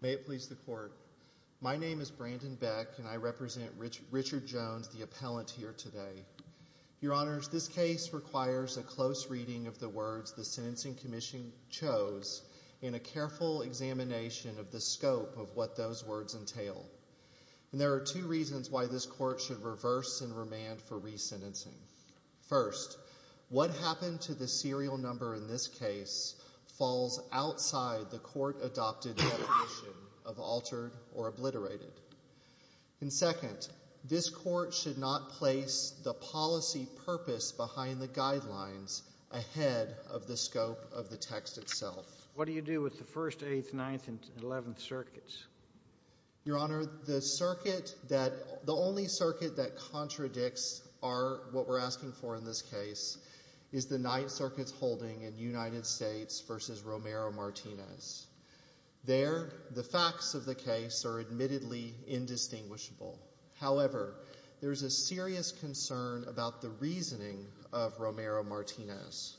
May it please the Court. My name is Brandon Beck, and I represent Richard Jones, the appellant here today. Your Honors, this case requires a close reading of the words the Sentencing Commission chose and a careful examination of the scope of what those words entail. And there are two reasons why this Court should reverse and remand for resentencing. First, what happened to the serial number in this case falls outside the Court-adopted definition of altered or obliterated. And second, this Court should not place the policy purpose behind the guidelines ahead of the scope of the text itself. What do you do with the First, Eighth, Ninth, and Eleventh Circuits? Your Honor, the circuit that, the only circuit that contradicts our, what we're asking for in this case is the Ninth Circuit's holding in United States v. Romero-Martinez. There, the facts of the case are admittedly indistinguishable. However, there is a serious concern about the reasoning of Romero-Martinez.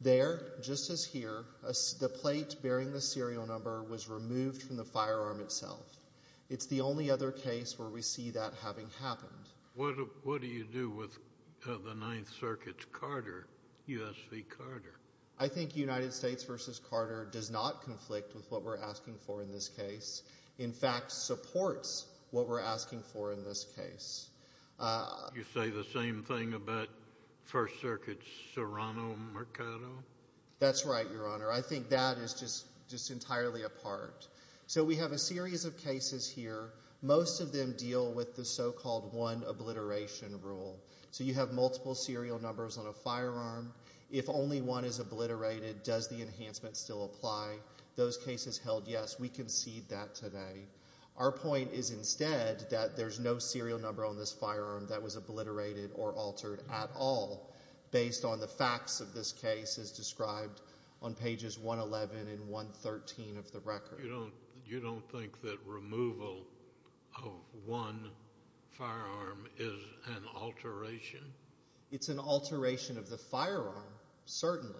There, just as here, the plate bearing the serial number was removed from the firearm itself. It's the only other case where we see that having happened. What do you do with the Ninth Circuit's Carter, U.S. v. Carter? I think United States v. Carter does not conflict with what we're asking for in this case. In fact, supports what we're asking for in this case. You say the same thing about First Circuit Serrano-Mercado? That's right, Your Honor. I think that is just entirely apart. So we have a series of cases here. Most of them deal with the so-called one obliteration rule. So you have multiple serial numbers on a firearm. If only one is obliterated, does the enhancement still apply? Those cases held yes, we concede that today. Our point is instead that there's no serial number on this firearm that was obliterated or altered at all based on the facts of this case as described on pages 111 and 113 of the record. You don't think that removal of one firearm is an alteration? It's an alteration of the firearm, certainly.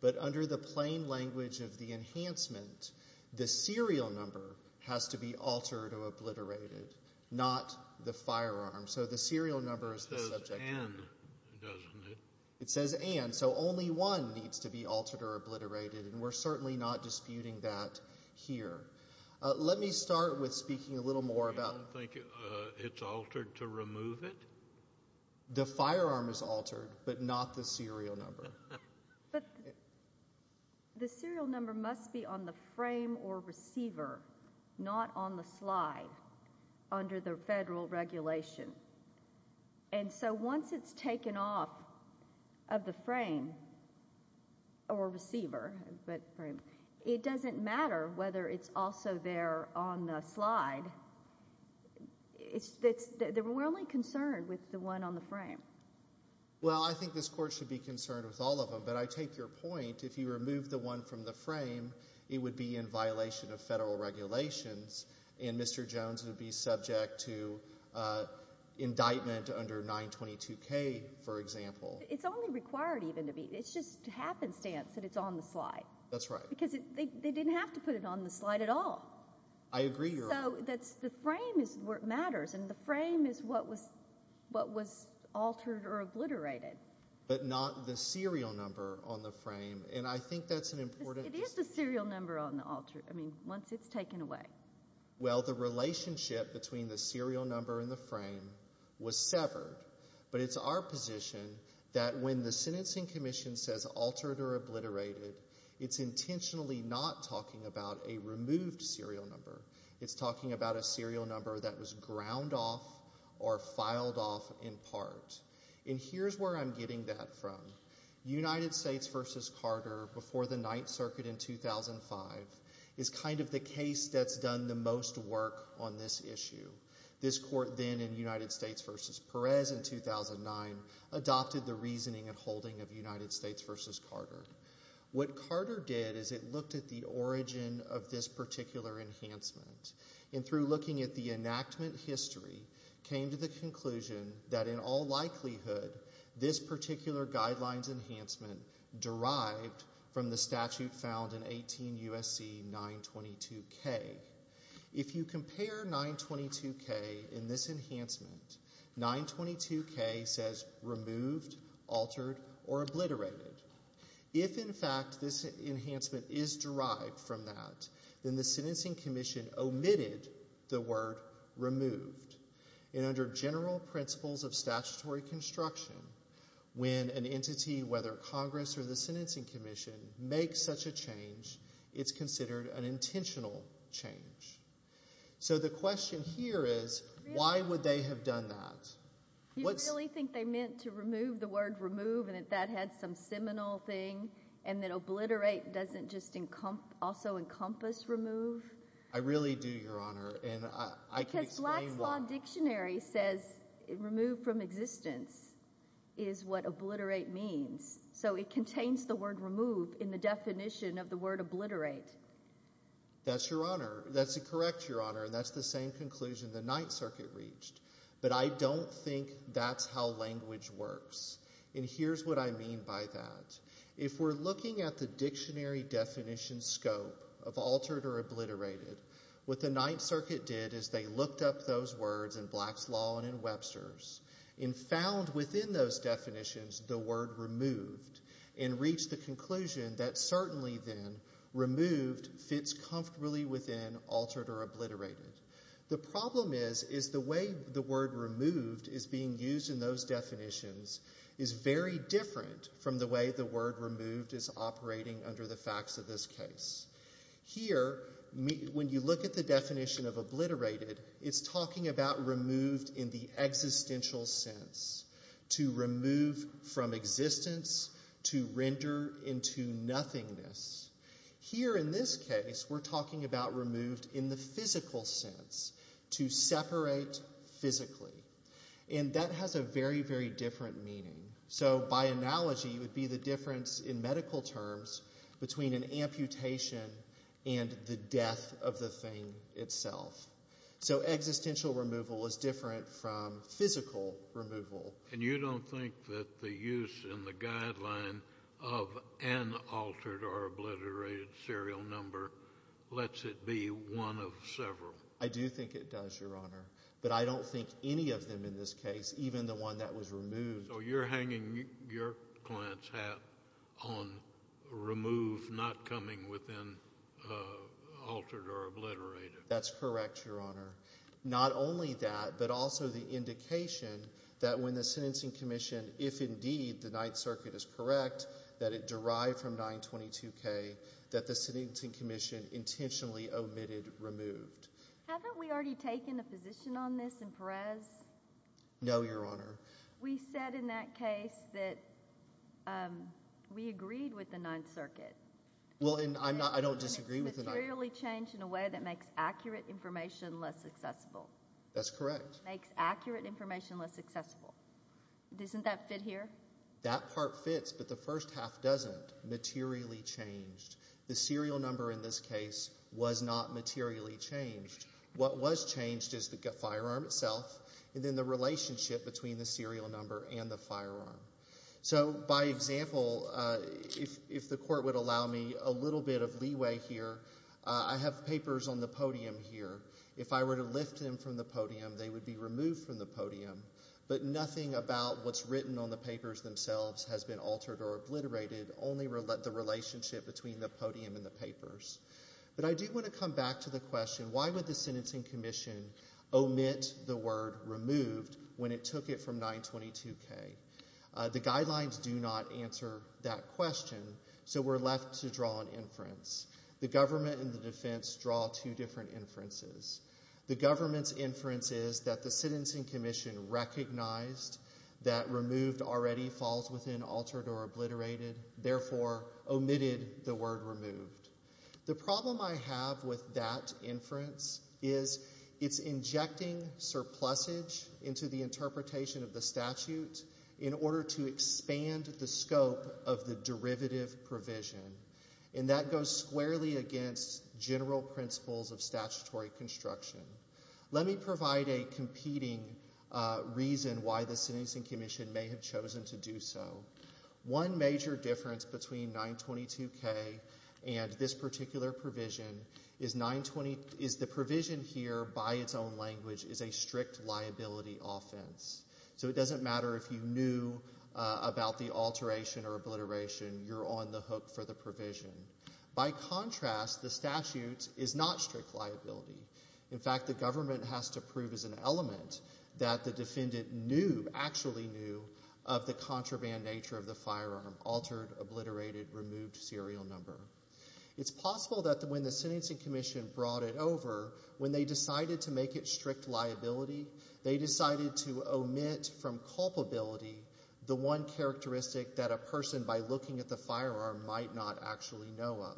But under the plain language of the enhancement, the serial number has to be altered or obliterated, not the firearm. So the serial number is the subject matter. It says and, doesn't it? It says and, so only one needs to be altered or obliterated, and we're certainly not disputing that here. Let me start with speaking a little more about— You don't think it's altered to remove it? The firearm is altered, but not the serial number. But the serial number must be on the frame or receiver, not on the slide, under the federal regulation. And so once it's taken off of the frame or receiver, it doesn't matter whether it's also there on the slide. We're only concerned with the one on the frame. Well, I think this Court should be concerned with all of them, but I take your point. If you remove the one from the frame, it would be in violation of federal regulations, and Mr. Jones would be subject to indictment under 922K, for example. It's only required even to be—it's just happenstance that it's on the slide. That's right. Because they didn't have to put it on the slide at all. I agree. So the frame is where it matters, and the frame is what was altered or obliterated. But not the serial number on the frame, and I think that's an important— It is the serial number on the altered—I mean, once it's taken away. Well, the relationship between the serial number and the frame was severed, but it's our position that when the Sentencing Commission says altered or obliterated, it's intentionally not talking about a removed serial number. It's talking about a serial number that was ground off or filed off in part. And here's where I'm getting that from. United States v. Carter before the Ninth Circuit in 2005 is kind of the case that's done the most work on this issue. This Court then, in United States v. Perez in 2009, adopted the reasoning and holding of United States v. Carter. What Carter did is it looked at the origin of this particular enhancement, and through looking at the enactment history, came to the conclusion that in all likelihood this particular guidelines enhancement derived from the statute found in 18 U.S.C. 922K. If you compare 922K in this enhancement, 922K says removed, altered, or obliterated. If, in fact, this enhancement is derived from that, then the Sentencing Commission omitted the word removed. And under general principles of statutory construction, when an entity, whether Congress or the Sentencing Commission, makes such a change, it's considered an intentional change. So the question here is why would they have done that? Do you really think they meant to remove the word remove and that that had some seminal thing and that obliterate doesn't just also encompass remove? I really do, Your Honor, and I can explain why. Because Black's Law Dictionary says removed from existence is what obliterate means. So it contains the word remove in the definition of the word obliterate. That's correct, Your Honor, and that's the same conclusion the Ninth Circuit reached. But I don't think that's how language works. And here's what I mean by that. If we're looking at the dictionary definition scope of altered or obliterated, what the Ninth Circuit did is they looked up those words in Black's Law and in Webster's and found within those definitions the word removed and reached the conclusion that certainly, then, removed fits comfortably within altered or obliterated. The problem is the way the word removed is being used in those definitions is very different from the way the word removed is operating under the facts of this case. Here, when you look at the definition of obliterated, it's talking about removed in the existential sense, to remove from existence, to render into nothingness. Here, in this case, we're talking about removed in the physical sense, to separate physically. And that has a very, very different meaning. So by analogy, it would be the difference in medical terms between an amputation and the death of the thing itself. So existential removal is different from physical removal. And you don't think that the use in the guideline of an altered or obliterated serial number lets it be one of several? I do think it does, Your Honor, but I don't think any of them in this case, even the one that was removed. So you're hanging your client's hat on removed not coming within altered or obliterated. That's correct, Your Honor. Not only that, but also the indication that when the sentencing commission, if indeed the Ninth Circuit is correct that it derived from 922K, that the sentencing commission intentionally omitted removed. Haven't we already taken a position on this in Perez? No, Your Honor. We said in that case that we agreed with the Ninth Circuit. Well, and I don't disagree with the Ninth Circuit. It was materially changed in a way that makes accurate information less accessible. That's correct. Makes accurate information less accessible. Doesn't that fit here? That part fits, but the first half doesn't. Materially changed. The serial number in this case was not materially changed. What was changed is the firearm itself and then the relationship between the serial number and the firearm. So, by example, if the court would allow me a little bit of leeway here, I have papers on the podium here. If I were to lift them from the podium, they would be removed from the podium. But nothing about what's written on the papers themselves has been altered or obliterated, only the relationship between the podium and the papers. But I do want to come back to the question, omit the word removed when it took it from 922K. The guidelines do not answer that question, so we're left to draw an inference. The government and the defense draw two different inferences. The government's inference is that the sentencing commission recognized that removed already falls within altered or obliterated, therefore omitted the word removed. The problem I have with that inference is it's injecting surplusage into the interpretation of the statute in order to expand the scope of the derivative provision, and that goes squarely against general principles of statutory construction. Let me provide a competing reason why the sentencing commission may have chosen to do so. One major difference between 922K and this particular provision is the provision here, by its own language, is a strict liability offense. So it doesn't matter if you knew about the alteration or obliteration, you're on the hook for the provision. By contrast, the statute is not strict liability. In fact, the government has to prove as an element that the defendant knew, actually knew, of the contraband nature of the firearm, altered, obliterated, removed serial number. It's possible that when the sentencing commission brought it over, when they decided to make it strict liability, they decided to omit from culpability the one characteristic that a person, by looking at the firearm, might not actually know of.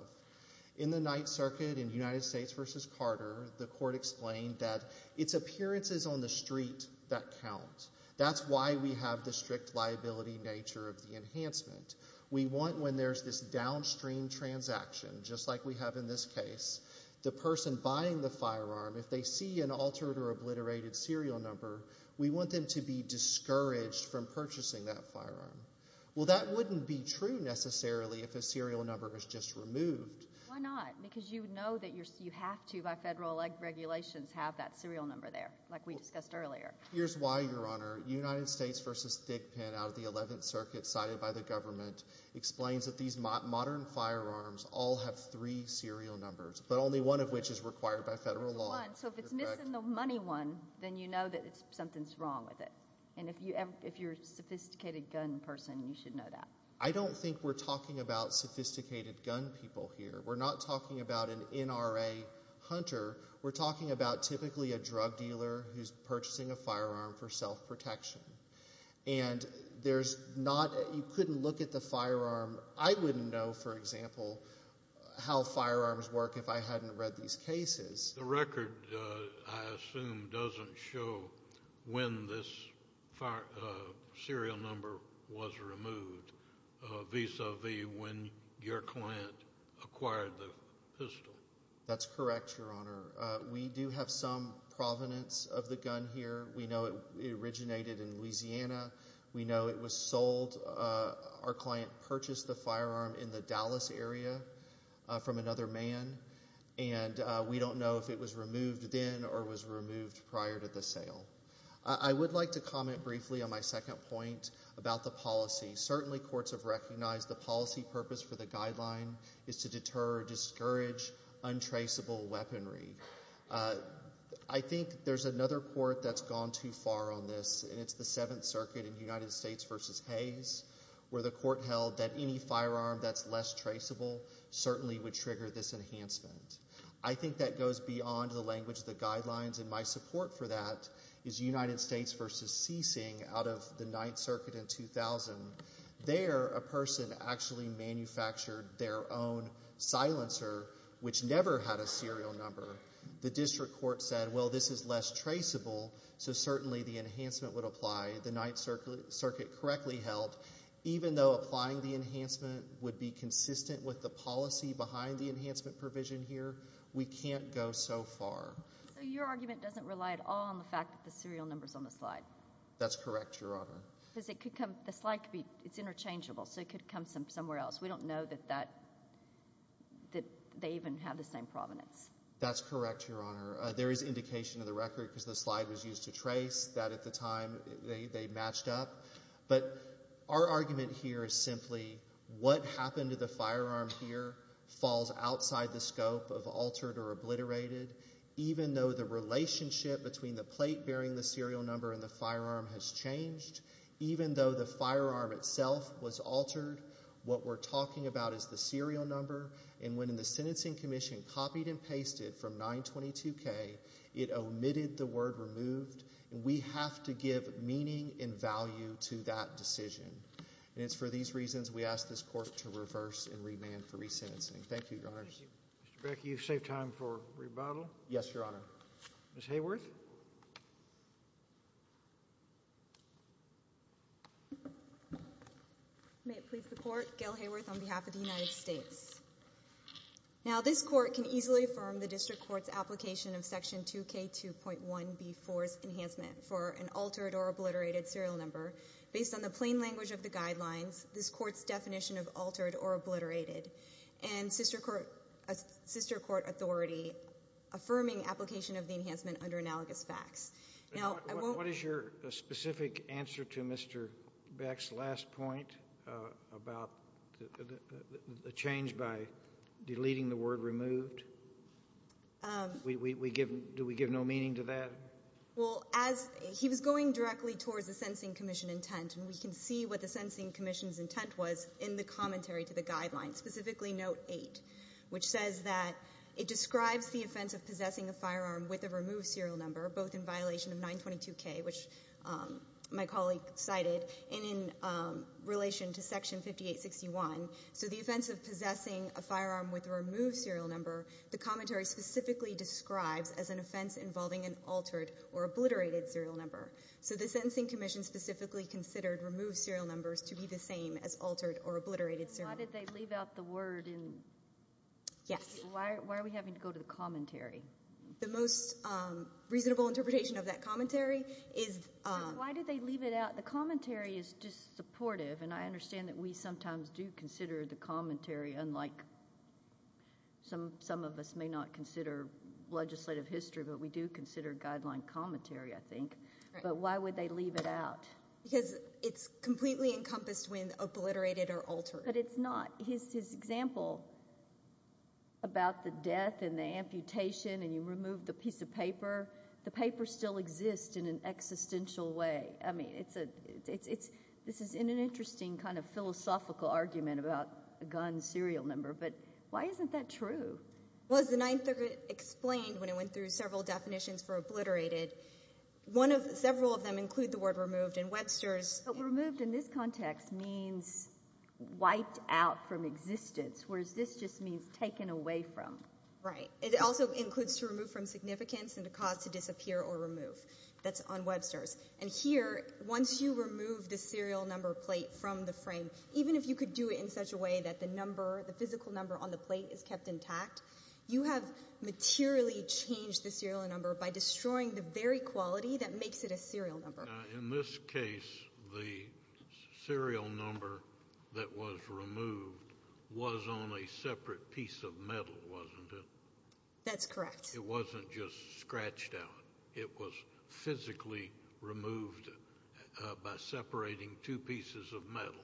In the Ninth Circuit in United States v. Carter, the court explained that it's appearances on the street that count. That's why we have the strict liability nature of the enhancement. We want when there's this downstream transaction, just like we have in this case, the person buying the firearm, if they see an altered or obliterated serial number, we want them to be discouraged from purchasing that firearm. Well, that wouldn't be true necessarily if a serial number is just removed. Why not? Because you know that you have to, by federal regulations, have that serial number there, like we discussed earlier. Here's why, Your Honor. United States v. Thigpen, out of the Eleventh Circuit cited by the government, explains that these modern firearms all have three serial numbers, but only one of which is required by federal law. So if it's missing the money one, then you know that something's wrong with it. And if you're a sophisticated gun person, you should know that. I don't think we're talking about sophisticated gun people here. We're not talking about an NRA hunter. We're talking about typically a drug dealer who's purchasing a firearm for self-protection. And you couldn't look at the firearm. I wouldn't know, for example, how firearms work if I hadn't read these cases. The record, I assume, doesn't show when this serial number was removed, vis-a-vis when your client acquired the pistol. That's correct, Your Honor. We do have some provenance of the gun here. We know it originated in Louisiana. We know it was sold. Our client purchased the firearm in the Dallas area from another man. And we don't know if it was removed then or was removed prior to the sale. I would like to comment briefly on my second point about the policy. Certainly courts have recognized the policy purpose for the guideline is to deter or discourage untraceable weaponry. I think there's another court that's gone too far on this, and it's the Seventh Circuit in United States v. Hayes, where the court held that any firearm that's less traceable certainly would trigger this enhancement. I think that goes beyond the language of the guidelines, and my support for that is United States v. Seesing out of the Ninth Circuit in 2000. There, a person actually manufactured their own silencer, which never had a serial number. The district court said, well, this is less traceable, so certainly the enhancement would apply. The Ninth Circuit correctly held, even though applying the enhancement would be consistent with the policy behind the enhancement provision here, we can't go so far. So your argument doesn't rely at all on the fact that the serial number's on the slide? That's correct, Your Honor. Because the slide could be interchangeable, so it could come from somewhere else. We don't know that they even have the same provenance. That's correct, Your Honor. There is indication in the record, because the slide was used to trace, that at the time they matched up. But our argument here is simply, what happened to the firearm here falls outside the scope of altered or obliterated. Even though the relationship between the plate bearing the serial number and the firearm has changed, even though the firearm itself was altered, what we're talking about is the serial number. And when the Sentencing Commission copied and pasted from 922K, it omitted the word removed. And we have to give meaning and value to that decision. And it's for these reasons we ask this Court to reverse and remand for resentencing. Thank you, Your Honors. Thank you. Mr. Beck, you save time for rebuttal. Yes, Your Honor. Ms. Hayworth. May it please the Court, Gail Hayworth on behalf of the United States. Now, this Court can easily affirm the district court's application of Section 2K2.1B4's enhancement for an altered or obliterated serial number based on the plain language of the guidelines, this Court's definition of altered or obliterated, and sister court authority affirming application of the enhancement under analogous facts. Now, I won't What is your specific answer to Mr. Beck's last point about the change by deleting the word removed? Do we give no meaning to that? Well, as he was going directly towards the Sentencing Commission intent, and we can see what the Sentencing Commission's intent was in the commentary to the guidelines, specifically note 8, which says that it describes the offense of possessing a firearm with a removed serial number, both in violation of 922K, which my colleague cited, and in relation to Section 5861. So the offense of possessing a firearm with a removed serial number, the commentary specifically describes as an offense involving an altered or obliterated serial number. So the Sentencing Commission specifically considered removed serial numbers to be the same as altered or obliterated serial numbers. Why did they leave out the word in? Yes. Why are we having to go to the commentary? The most reasonable interpretation of that commentary is Why did they leave it out? The commentary is just supportive, and I understand that we sometimes do consider the commentary, unlike some of us may not consider legislative history, but we do consider guideline commentary, I think. But why would they leave it out? Because it's completely encompassed when obliterated or altered. But it's not. His example about the death and the amputation and you remove the piece of paper, the paper still exists in an existential way. I mean, this is an interesting kind of philosophical argument about a gun serial number. But why isn't that true? Well, as the 9th Circuit explained when it went through several definitions for obliterated, several of them include the word removed in Webster's. But removed in this context means wiped out from existence, whereas this just means taken away from. Right. It also includes to remove from significance and the cause to disappear or remove. That's on Webster's. And here, once you remove the serial number plate from the frame, even if you could do it in such a way that the number, the physical number on the plate is kept intact, you have materially changed the serial number by destroying the very quality that makes it a serial number. In this case, the serial number that was removed was on a separate piece of metal, wasn't it? That's correct. It wasn't just scratched out. It was physically removed by separating two pieces of metal.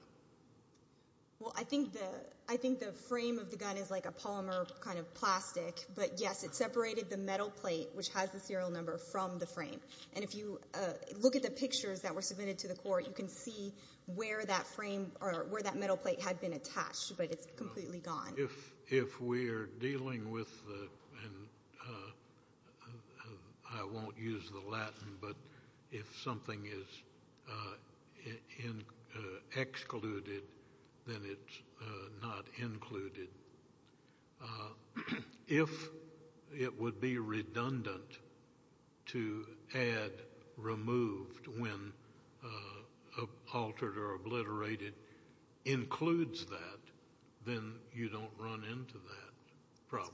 Well, I think the frame of the gun is like a polymer kind of plastic. But, yes, it separated the metal plate, which has the serial number, from the frame. And if you look at the pictures that were submitted to the court, you can see where that frame or where that metal plate had been attached, but it's completely gone. If we are dealing with the and I won't use the Latin, but if something is excluded, then it's not included. If it would be redundant to add removed when altered or obliterated includes that, then you don't run into that problem.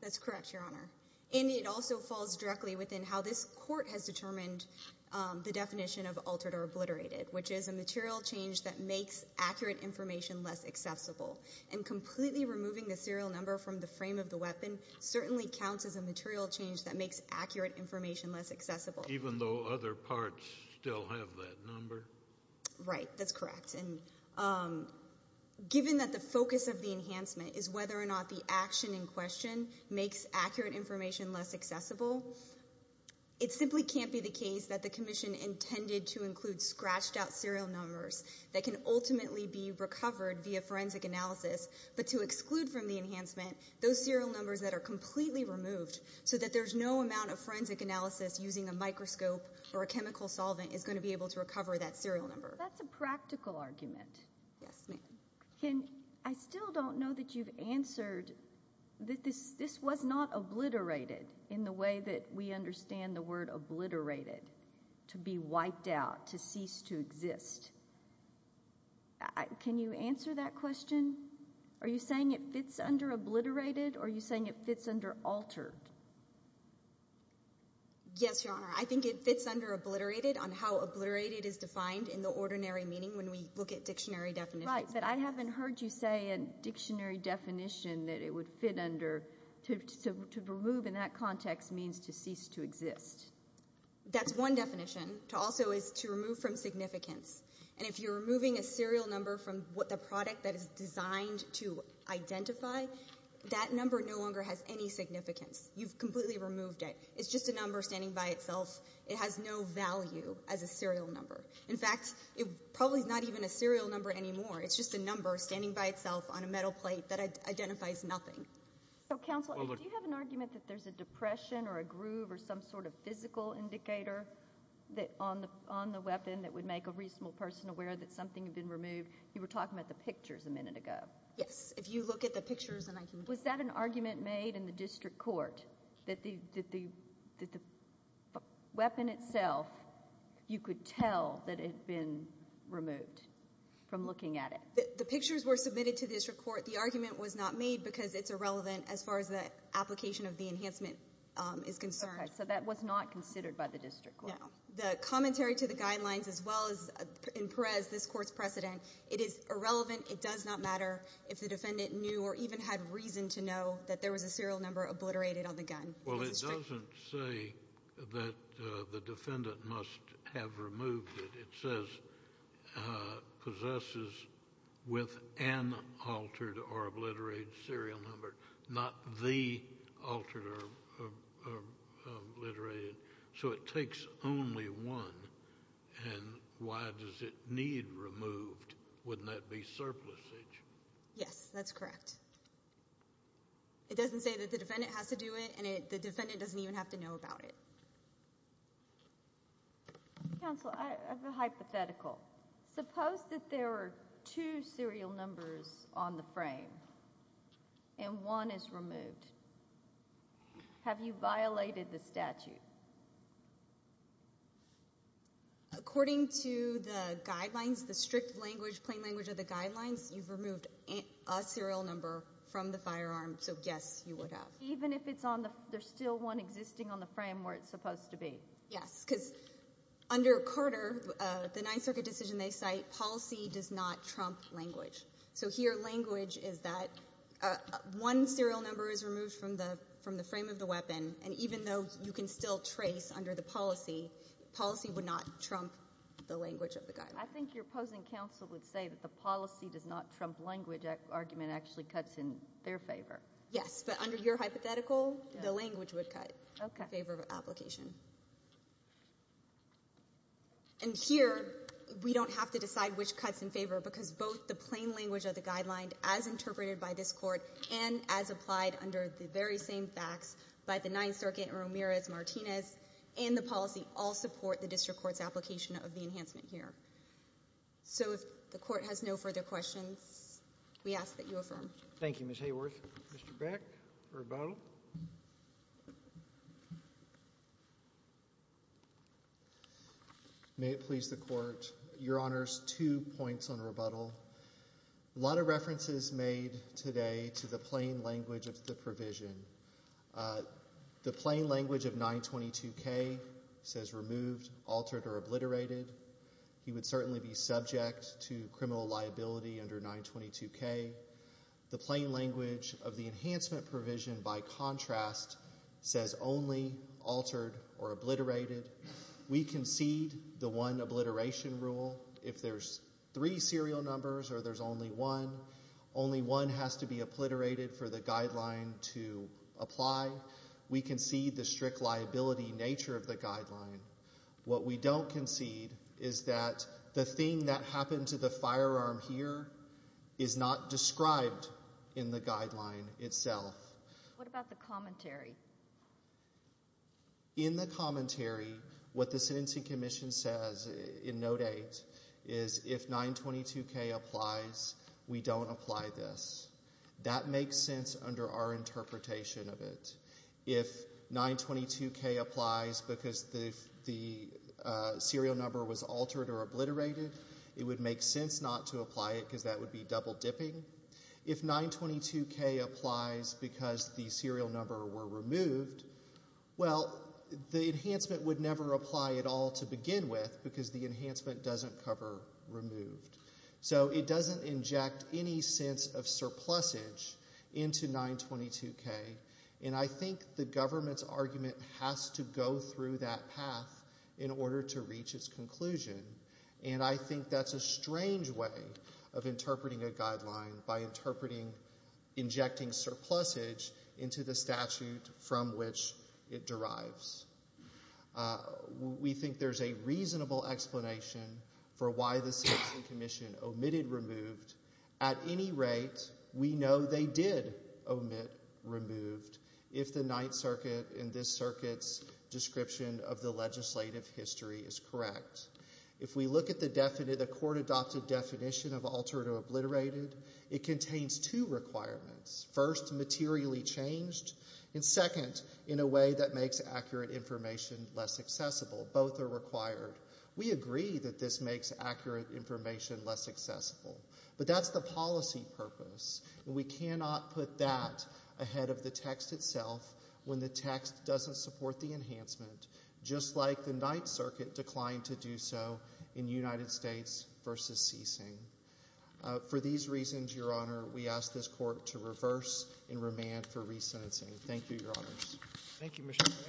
That's correct, Your Honor. And it also falls directly within how this court has determined the definition of altered or obliterated, which is a material change that makes accurate information less accessible and completely removing the serial number from the frame of the weapon certainly counts as a material change that makes accurate information less accessible. Even though other parts still have that number? Right. That's correct. And given that the focus of the enhancement is whether or not the action in question makes accurate information less accessible, it simply can't be the case that the commission intended to include but to exclude from the enhancement those serial numbers that are completely removed so that there's no amount of forensic analysis using a microscope or a chemical solvent is going to be able to recover that serial number. That's a practical argument. Yes, ma'am. I still don't know that you've answered that this was not obliterated in the way that we understand the word obliterated, to be wiped out, to cease to exist. Can you answer that question? Are you saying it fits under obliterated or are you saying it fits under altered? Yes, Your Honor. I think it fits under obliterated on how obliterated is defined in the ordinary meaning when we look at dictionary definitions. Right, but I haven't heard you say a dictionary definition that it would fit under. To remove in that context means to cease to exist. That's one definition. To also is to remove from significance. And if you're removing a serial number from the product that is designed to identify, that number no longer has any significance. You've completely removed it. It's just a number standing by itself. It has no value as a serial number. In fact, it's probably not even a serial number anymore. It's just a number standing by itself on a metal plate that identifies nothing. Counsel, do you have an argument that there's a depression or a groove or some sort of physical indicator on the weapon that would make a reasonable person aware that something had been removed? You were talking about the pictures a minute ago. Yes, if you look at the pictures. Was that an argument made in the district court that the weapon itself, you could tell that it had been removed from looking at it? The pictures were submitted to the district court. The argument was not made because it's irrelevant as far as the application of the enhancement is concerned. Okay. So that was not considered by the district court? No. The commentary to the guidelines as well as in Perez, this court's precedent, it is irrelevant. It does not matter if the defendant knew or even had reason to know that there was a serial number obliterated on the gun. Well, it doesn't say that the defendant must have removed it. It says possesses with an altered or obliterated serial number, not the altered or obliterated. So it takes only one, and why does it need removed? Wouldn't that be surplusage? Yes, that's correct. It doesn't say that the defendant has to do it, and the defendant doesn't even have to know about it. Counsel, I have a hypothetical. Suppose that there are two serial numbers on the frame and one is removed. Have you violated the statute? According to the guidelines, the strict language, plain language of the guidelines, you've removed a serial number from the firearm, so, yes, you would have. Even if there's still one existing on the frame where it's supposed to be? Yes, because under Carter, the Ninth Circuit decision they cite, policy does not trump language. So here language is that one serial number is removed from the frame of the weapon, and even though you can still trace under the policy, policy would not trump the language of the guidelines. I think your opposing counsel would say that the policy does not trump language argument actually cuts in their favor. Yes, but under your hypothetical, the language would cut in favor of application. And here we don't have to decide which cuts in favor, because both the plain language of the guidelines as interpreted by this Court and as applied under the very same facts by the Ninth Circuit, Ramirez, Martinez, and the policy all support the district court's application of the enhancement here. So if the Court has no further questions, we ask that you affirm. Thank you, Ms. Hayworth. Mr. Beck, rebuttal. May it please the Court. Your Honors, two points on rebuttal. A lot of references made today to the plain language of the provision. The plain language of 922K says removed, altered, or obliterated. He would certainly be subject to criminal liability under 922K. The plain language of the enhancement provision, by contrast, says only altered or obliterated. We concede the one obliteration rule. If there's three serial numbers or there's only one, only one has to be obliterated for the guideline to apply. We concede the strict liability nature of the guideline. What we don't concede is that the thing that happened to the firearm here is not described in the guideline itself. What about the commentary? In the commentary, what the Sentencing Commission says in Note 8 is if 922K applies, we don't apply this. That makes sense under our interpretation of it. If 922K applies because the serial number was altered or obliterated, it would make sense not to apply it because that would be double dipping. If 922K applies because the serial number were removed, well, the enhancement would never apply at all to begin with because the enhancement doesn't cover removed. So it doesn't inject any sense of surplusage into 922K. And I think the government's argument has to go through that path in order to reach its conclusion. And I think that's a strange way of interpreting a guideline by interpreting injecting surplusage into the statute from which it derives. We think there's a reasonable explanation for why the Sentencing Commission omitted removed. At any rate, we know they did omit removed if the Ninth Circuit in this circuit's description of the legislative history is correct. If we look at the court-adopted definition of altered or obliterated, it contains two requirements. First, materially changed, and second, in a way that makes accurate information less accessible. Both are required. We agree that this makes accurate information less accessible. But that's the policy purpose, and we cannot put that ahead of the text itself when the text doesn't support the enhancement, just like the Ninth Circuit declined to do so in United States v. Ceasing. For these reasons, Your Honor, we ask this court to reverse and remand for re-sentencing. Thank you, Your Honors. Thank you, Mr. Klinek.